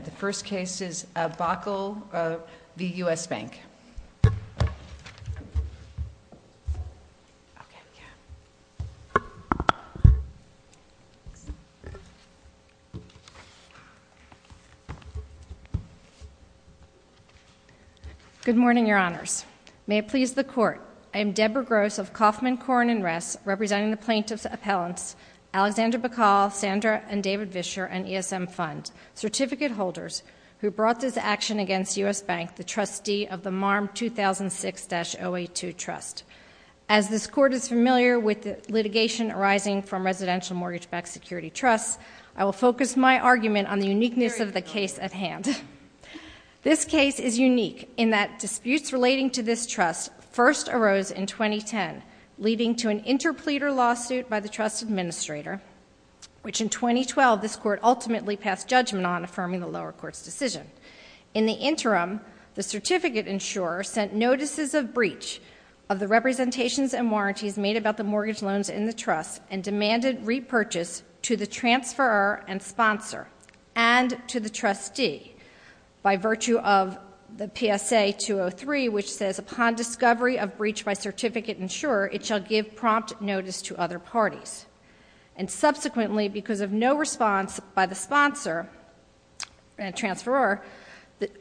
The first case is Bacal v. U.S. Bank. Good morning, Your Honors. May it please the Court, I am Deborah Gross of Kaufman, Korn, and Ress, representing the plaintiffs' appellants, Alexander Bacal, Sandra, and David Vischer, and ESM Fund, certificate holders, who brought this action against U.S. Bank, the trustee of the MARM 2006-082 Trust. As this Court is familiar with litigation arising from residential mortgage-backed security trusts, I will focus my argument on the uniqueness of the case at hand. This case is unique in that disputes relating to this trust first arose in 2010, leading to an interpleader lawsuit by the trust administrator, which in 2012 this Court ultimately passed judgment on, affirming the lower court's decision. In the interim, the certificate insurer sent notices of breach of the representations and warranties made about the mortgage loans in the trust, and demanded repurchase to the transferor and sponsor, and to the trustee, by virtue of the PSA-203, which says, upon discovery of breach by certificate insurer, it shall give prompt notice to other parties. And subsequently, because of no response by the sponsor and transferor,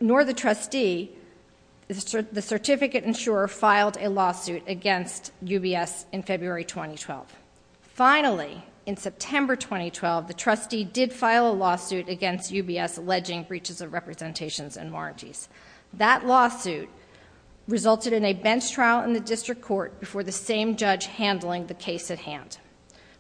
nor the trustee, the certificate insurer filed a lawsuit against UBS in February 2012. Finally, in September 2012, the trustee did file a lawsuit against UBS, alleging breaches of representations and warranties. That lawsuit resulted in a bench trial in the district court before the same judge handling the case at hand.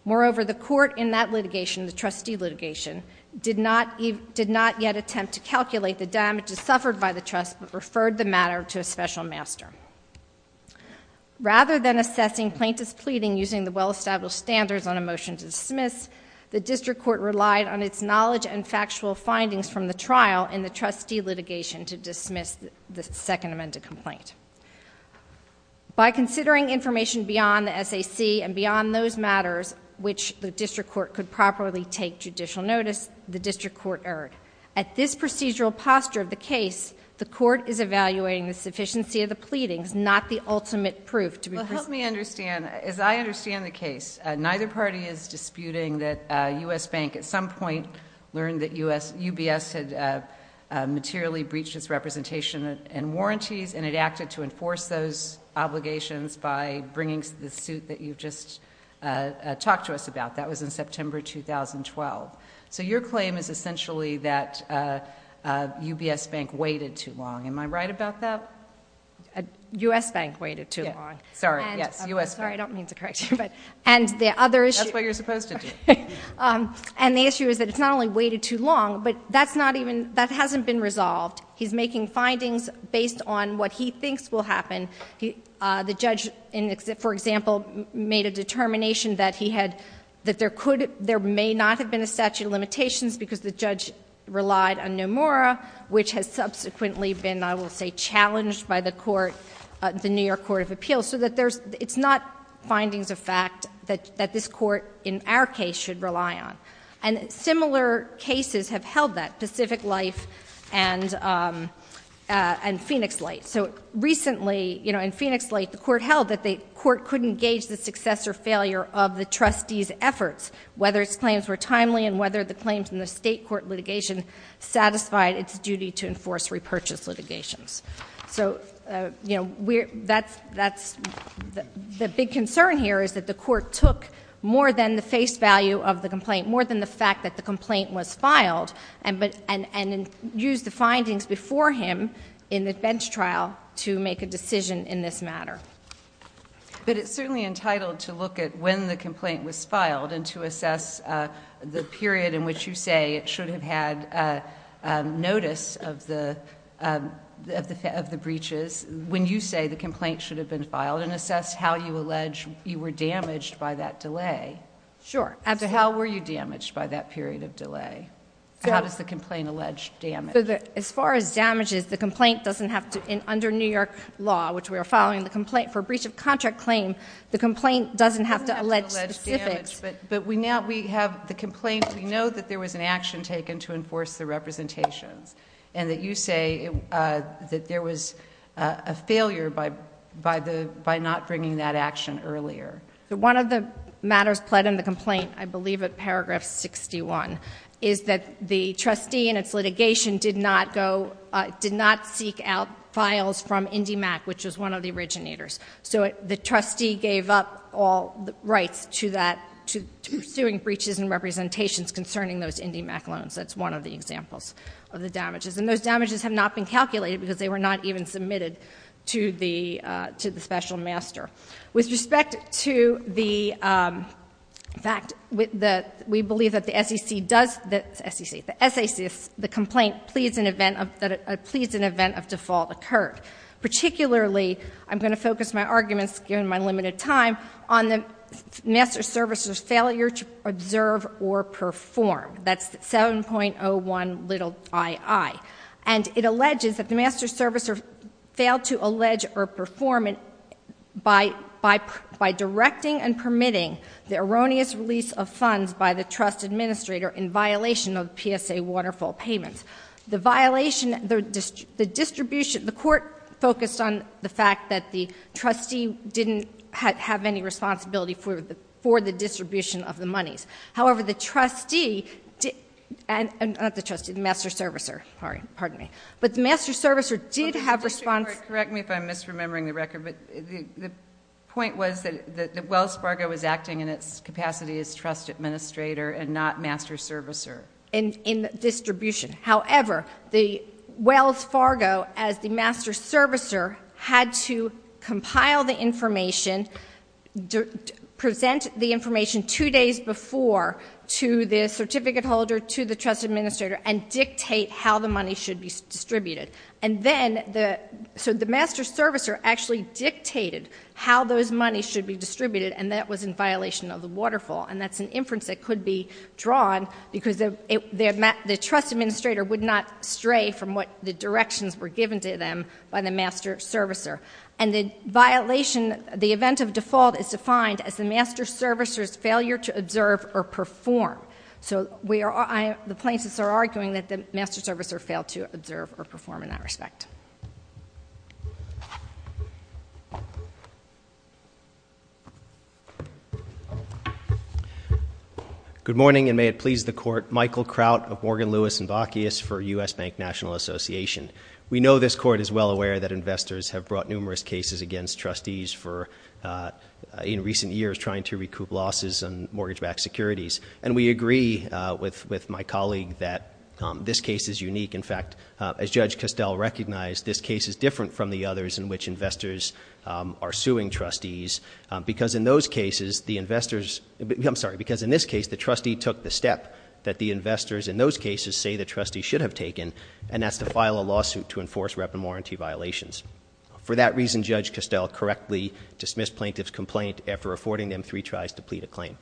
Moreover, the court in that litigation, the trustee litigation, did not yet attempt to calculate the damages suffered by the trust, but referred the matter to a special master. Rather than assessing plaintiff's pleading using the well-established standards on a motion to dismiss, the district court relied on its knowledge and factual findings from the trial and the trustee litigation to dismiss the second amended complaint. By considering information beyond the SAC and beyond those matters which the district court could properly take judicial notice, the district court erred. At this procedural posture of the case, the court is evaluating the sufficiency of the pleadings, not the ultimate proof to be proved. Let me understand, as I understand the case, neither party is disputing that U.S. Bank at some point learned that UBS had materially breached its representation and warranties and it acted to enforce those obligations by bringing the suit that you've just talked to us about. That was in September 2012. So your claim is essentially that UBS Bank waited too long. Am I right about that? U.S. Bank waited too long. Sorry, yes, U.S. Bank. Sorry, I don't mean to correct you. That's what you're supposed to do. And the issue is that it's not only waited too long, but that hasn't been resolved. He's making findings based on what he thinks will happen. The judge, for example, made a determination that there may not have been a statute of limitations because the judge relied on Nomura, which has subsequently been, I will say, challenged by the court, the New York Court of Appeals, so that it's not findings of fact that this court, in our case, should rely on. And similar cases have held that, Pacific Life and Phoenix Light. So recently, you know, in Phoenix Light, the court held that the court couldn't gauge the success or failure of the trustee's efforts, whether its claims were timely and whether the claims in the state court litigation satisfied its duty to enforce repurchase litigations. So, you know, the big concern here is that the court took more than the face value of the complaint, more than the fact that the complaint was filed, and used the findings before him in the bench trial to make a decision in this matter. But it's certainly entitled to look at when the complaint was filed and to assess the period in which you say it should have had notice of the breaches when you say the complaint should have been filed and assess how you allege you were damaged by that delay. Sure. Absolutely. So how were you damaged by that period of delay? How does the complaint allege damage? As far as damages, the complaint doesn't have to, under New York law, which we are following the complaint for breach of contract claim, the complaint doesn't have to allege damage. But we have the complaint. We know that there was an action taken to enforce the representations, and that you say that there was a failure by not bringing that action earlier. One of the matters pled in the complaint, I believe at paragraph 61, is that the trustee in its litigation did not seek out files from IndyMac, which was one of the originators. So the trustee gave up all rights to suing breaches and representations concerning those IndyMac loans. That's one of the examples of the damages. And those damages have not been calculated because they were not even submitted to the special master. With respect to the fact that we believe that the SEC does, the SEC, the SAC, the complaint pleads an event of default occurred. Particularly, I'm going to focus my arguments, given my limited time, on the master servicer's failure to observe or perform. That's 7.01 ii. And it alleges that the master servicer failed to allege or perform by directing and permitting the erroneous release of funds by the trust administrator in violation of PSA waterfall payments. The court focused on the fact that the trustee didn't have any responsibility for the distribution of the monies. However, the trustee, not the trustee, the master servicer, pardon me, but the master servicer did have response. Correct me if I'm misremembering the record, but the point was that Wells Fargo was acting in its capacity as trust administrator and not master servicer. In distribution. However, Wells Fargo, as the master servicer, had to compile the information, present the information two days before to the certificate holder, to the trust administrator, and dictate how the money should be distributed. And then the master servicer actually dictated how those monies should be distributed, and that was in violation of the waterfall. And that's an inference that could be drawn because the trust administrator would not stray from what the directions were given to them by the master servicer. And the violation, the event of default, is defined as the master servicer's failure to observe or perform. So the plaintiffs are arguing that the master servicer failed to observe or perform in that respect. Good morning, and may it please the Court. Michael Kraut of Morgan, Lewis & Bockius for U.S. Bank National Association. We know this Court is well aware that investors have brought numerous cases against trustees in recent years trying to recoup losses on mortgage-backed securities. And we agree with my colleague that this case is unique. In fact, as Judge Costell recognized, this case is different from the others in which investors are suing trustees because in those cases the investors... I'm sorry, because in this case the trustee took the step that the investors in those cases say the trustee should have taken, and that's to file a lawsuit to enforce rep and warranty violations. For that reason, Judge Costell correctly dismissed plaintiff's complaint after affording them three tries to plead a claim.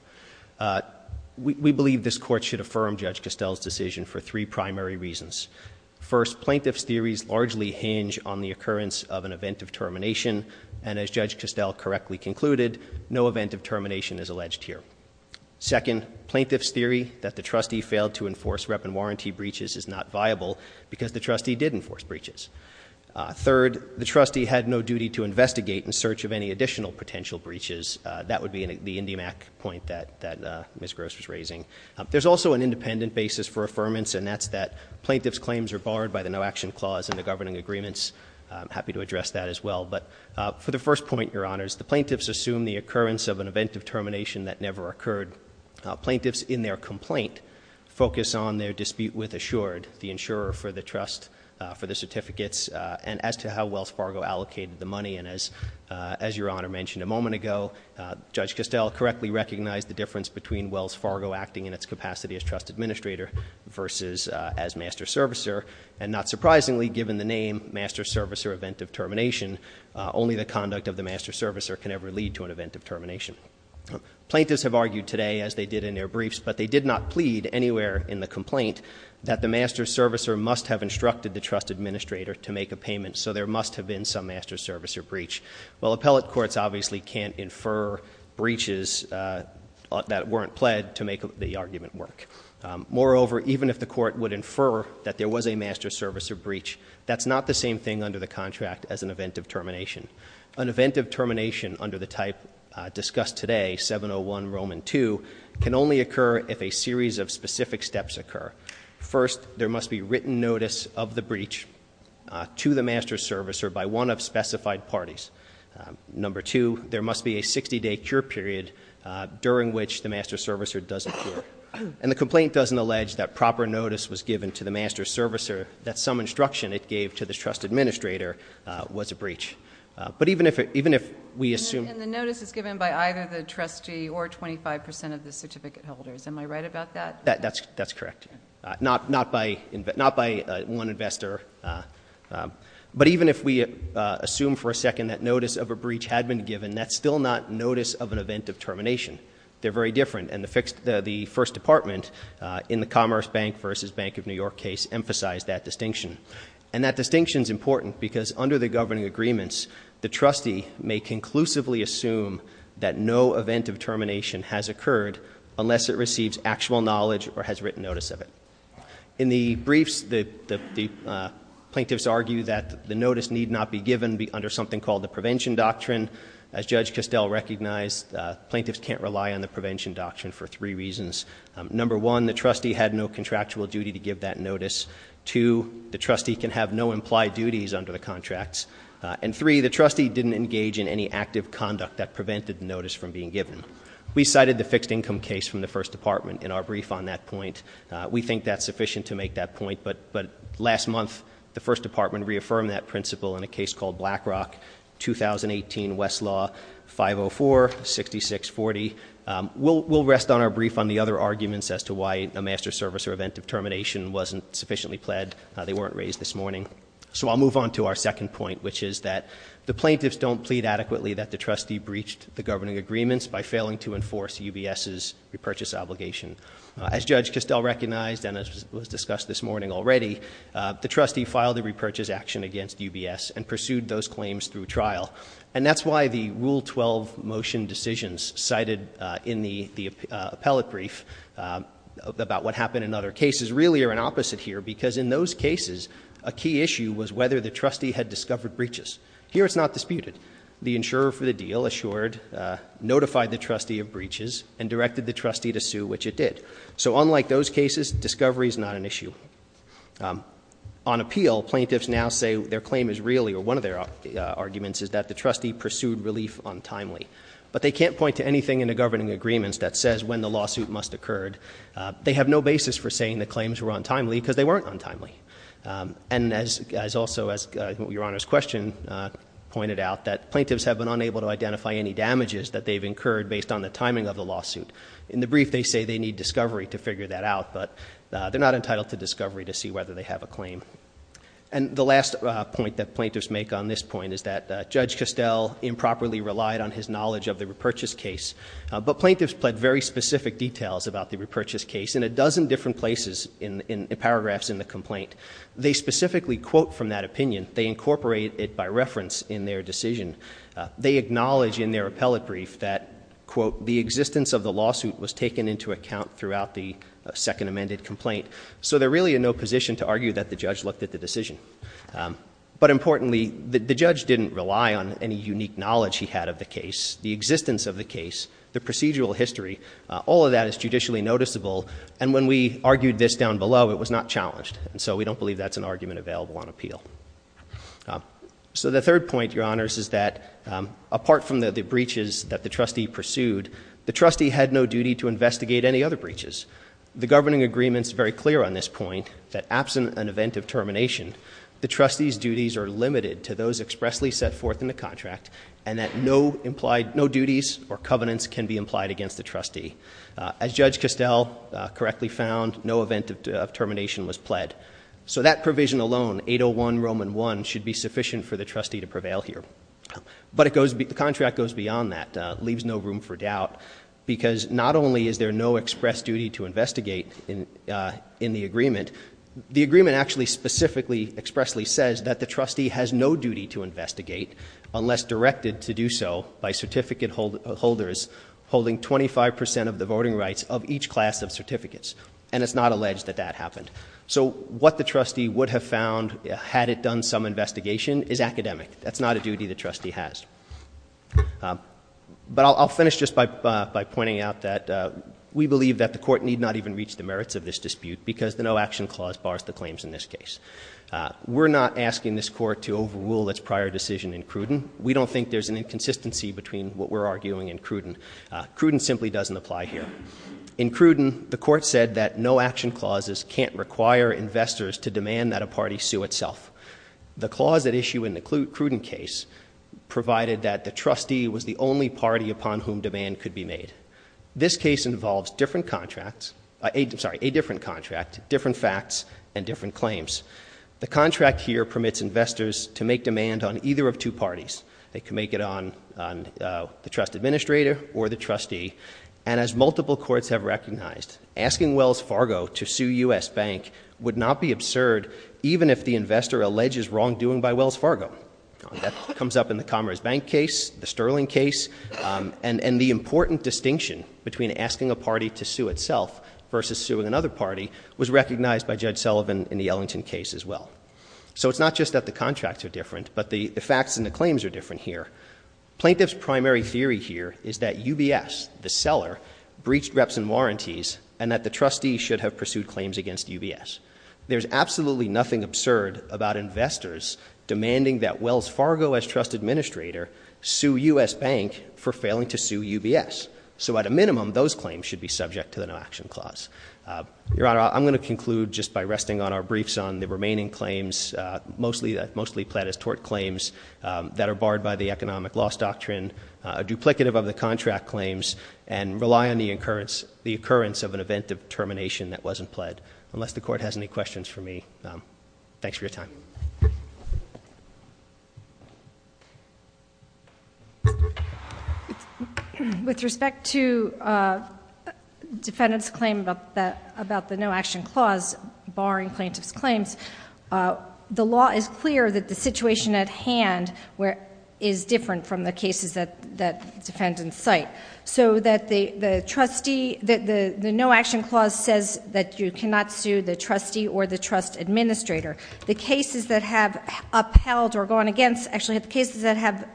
We believe this Court should affirm Judge Costell's decision for three primary reasons. First, plaintiff's theories largely hinge on the occurrence of an event of termination, and as Judge Costell correctly concluded, no event of termination is alleged here. Second, plaintiff's theory that the trustee failed to enforce rep and warranty breaches is not viable because the trustee did enforce breaches. Third, the trustee had no duty to investigate in search of any additional potential breaches. That would be the IndyMac point that Ms. Gross was raising. There's also an independent basis for affirmance, and that's that plaintiff's claims are barred by the no-action clause in the governing agreements. I'm happy to address that as well. But for the first point, Your Honors, the plaintiffs assume the occurrence of an event of termination that never occurred. Plaintiffs, in their complaint, focus on their dispute with Assured, the insurer for the trust, for the certificates, and as to how Wells Fargo allocated the money. And as Your Honor mentioned a moment ago, Judge Costell correctly recognized the difference between Wells Fargo acting in its capacity as trust administrator versus as master servicer, and not surprisingly, given the name master servicer event of termination, only the conduct of the master servicer can ever lead to an event of termination. Plaintiffs have argued today, as they did in their briefs, but they did not plead anywhere in the complaint that the master servicer must have instructed the trust administrator to make a payment, so there must have been some master servicer breach. Well, appellate courts obviously can't infer breaches that weren't pled to make the argument work. Moreover, even if the court would infer that there was a master servicer breach, that's not the same thing under the contract as an event of termination. An event of termination under the type discussed today, 701 Roman 2, can only occur if a series of specific steps occur. First, there must be written notice of the breach to the master servicer by one of specified parties. Number two, there must be a 60-day cure period during which the master servicer does not cure. And the complaint doesn't allege that proper notice was given to the master servicer that some instruction it gave to the trust administrator was a breach. But even if we assume... And the notice is given by either the trustee or 25% of the certificate holders. Am I right about that? That's correct. Not by one investor. But even if we assume for a second that notice of a breach had been given, that's still not notice of an event of termination. They're very different, and the first department in the Commerce Bank v. Bank of New York case emphasized that distinction. And that distinction's important because under the governing agreements, the trustee may conclusively assume that no event of termination has occurred unless it receives actual knowledge or has written notice of it. In the briefs, the plaintiffs argue that the notice need not be given under something called the prevention doctrine. As Judge Costell recognized, plaintiffs can't rely on the prevention doctrine for three reasons. Number one, the trustee had no contractual duty to give that notice. Two, the trustee can have no implied duties under the contracts. And three, the trustee didn't engage in any active conduct that prevented the notice from being given. We cited the fixed income case from the first department in our brief on that point. We think that's sufficient to make that point, but last month, the first department reaffirmed that principle in a case called BlackRock 2018, Westlaw 504-6640. We'll rest on our brief on the other arguments as to why a master service or event of termination wasn't sufficiently pled. They weren't raised this morning. So I'll move on to our second point, which is that the plaintiffs don't plead adequately that the trustee breached the governing agreements by failing to enforce UBS's repurchase obligation. As Judge Costell recognized, and as was discussed this morning already, the trustee filed a repurchase action against UBS and pursued those claims through trial. And that's why the Rule 12 motion decisions cited in the appellate brief about what happened in other cases really are an opposite here, because in those cases, a key issue was whether the trustee had discovered breaches. Here it's not disputed. The insurer for the deal assured, notified the trustee of breaches, and directed the trustee to sue, which it did. So unlike those cases, discovery is not an issue. On appeal, plaintiffs now say their claim is really, or one of their arguments is that the trustee pursued relief untimely. But they can't point to anything in the governing agreements that says when the lawsuit must have occurred. They have no basis for saying the claims were untimely, because they weren't untimely. And also, as Your Honor's question pointed out, that plaintiffs have been unable to identify any damages that they've incurred based on the timing of the lawsuit. In the brief, they say they need discovery to figure that out, but they're not entitled to discovery to see whether they have a claim. And the last point that plaintiffs make on this point is that Judge Costell improperly relied on his knowledge of the repurchase case, but plaintiffs pled very specific details about the repurchase case in a dozen different places in paragraphs in the complaint. They specifically quote from that opinion. They incorporate it by reference in their decision. They acknowledge in their appellate brief that, quote, the existence of the lawsuit was taken into account throughout the second amended complaint. So they're really in no position to argue that the judge looked at the decision. But importantly, the judge didn't rely on any unique knowledge he had of the case. The existence of the case, the procedural history, all of that is judicially noticeable. And when we argued this down below, it was not challenged. And so we don't believe that's an argument available on appeal. So the third point, Your Honors, is that apart from the breaches that the trustee pursued, the trustee had no duty to investigate any other breaches. The governing agreement's very clear on this point, that absent an event of termination, the trustee's duties are limited to those expressly set forth in the contract and that no duties or covenants can be implied against the trustee. As Judge Castell correctly found, no event of termination was pled. So that provision alone, 801 Roman 1, should be sufficient for the trustee to prevail here. But the contract goes beyond that, leaves no room for doubt, because not only is there no express duty to investigate in the agreement, the agreement actually specifically expressly says that the trustee has no duty to investigate unless directed to do so by certificate holders holding 25% of the voting rights of each class of certificates. And it's not alleged that that happened. So what the trustee would have found had it done some investigation is academic. That's not a duty the trustee has. But I'll finish just by pointing out that we believe that the court need not even reach the merits of this dispute We're not asking this court to overrule its prior decision in Cruden. We don't think there's an inconsistency between what we're arguing and Cruden. Cruden simply doesn't apply here. In Cruden, the court said that no action clauses can't require investors to demand that a party sue itself. The clause at issue in the Cruden case provided that the trustee was the only party upon whom demand could be made. This case involves different contracts... I'm sorry, a different contract, different facts, and different claims. The contract here permits investors to make demand on either of two parties. They can make it on the trust administrator or the trustee. And as multiple courts have recognized, asking Wells Fargo to sue U.S. Bank would not be absurd even if the investor alleges wrongdoing by Wells Fargo. That comes up in the Commerce Bank case, the Sterling case, and the important distinction between asking a party to sue itself versus suing another party was recognized by Judge Sullivan in the Ellington case as well. So it's not just that the contracts are different, but the facts and the claims are different here. Plaintiff's primary theory here is that UBS, the seller, breached reps and warranties and that the trustee should have pursued claims against UBS. There's absolutely nothing absurd about investors demanding that Wells Fargo, as trust administrator, sue U.S. Bank for failing to sue UBS. So at a minimum, those claims should be subject to the no action clause. Your Honor, I'm going to conclude just by resting on our briefs on the remaining claims, mostly pled as tort claims, that are barred by the economic loss doctrine, duplicative of the contract claims, and rely on the occurrence of an event of termination that wasn't pled. Unless the court has any questions for me, thanks for your time. With respect to the defendant's claim about the no action clause, barring plaintiff's claims, the law is clear that the situation at hand is different from the cases that the defendants cite. So that the trustee... The no action clause says that you cannot sue the trustee or the trust administrator. The cases that have upheld or gone against... Actually, the cases that have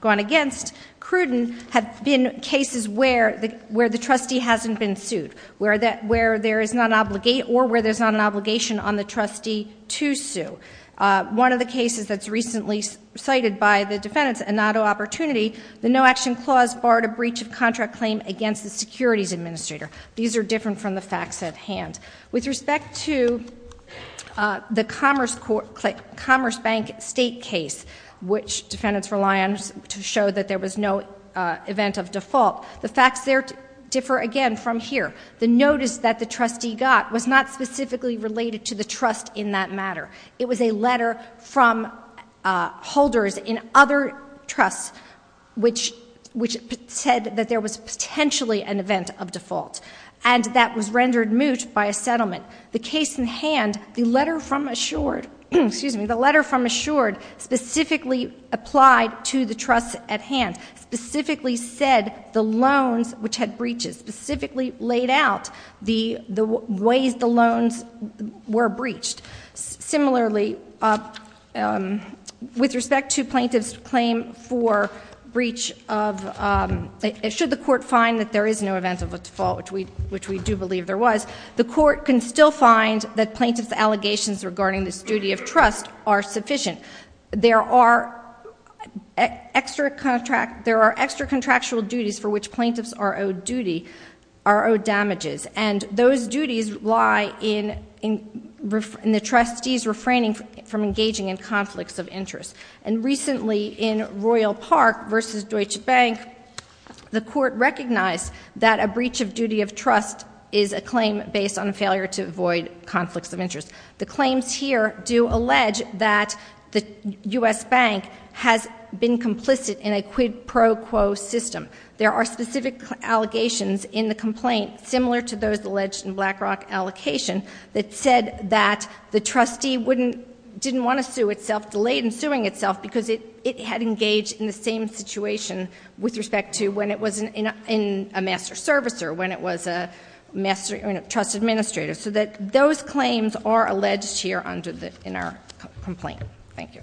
gone against Cruden have been cases where the trustee hasn't been sued, where there is not an obligation or where there's not an obligation on the trustee to sue. One of the cases that's recently cited by the defendants, an auto opportunity, the no action clause barred a breach of contract claim against the securities administrator. These are different from the facts at hand. With respect to the Commerce Bank State case, which defendants rely on to show that there was no event of default, the facts there differ again from here. The notice that the trustee got was not specifically related to the trust in that matter. It was a letter from holders in other trusts which said that there was potentially an event of default, and that was rendered moot by a settlement. The case at hand, the letter from Assured... specifically said the loans which had breaches, specifically laid out the ways the loans were breached. Similarly, with respect to plaintiff's claim for breach of... Should the court find that there is no event of default, which we do believe there was, the court can still find that plaintiff's allegations regarding this duty of trust are sufficient. There are extra contractual duties for which plaintiffs are owed damages, and those duties lie in the trustees refraining from engaging in conflicts of interest. And recently, in Royal Park v. Deutsche Bank, the court recognized that a breach of duty of trust is a claim based on a failure to avoid conflicts of interest. The claims here do allege that the U.S. Bank has been complicit in a quid pro quo system. There are specific allegations in the complaint, similar to those alleged in BlackRock Allocation, that said that the trustee didn't want to sue itself, delayed in suing itself, because it had engaged in the same situation with respect to when it was a master servicer, when it was a trust administrator. So those claims are alleged here in our complaint. Thank you.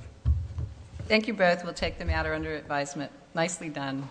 Thank you both. We'll take the matter under advisement. Nicely done.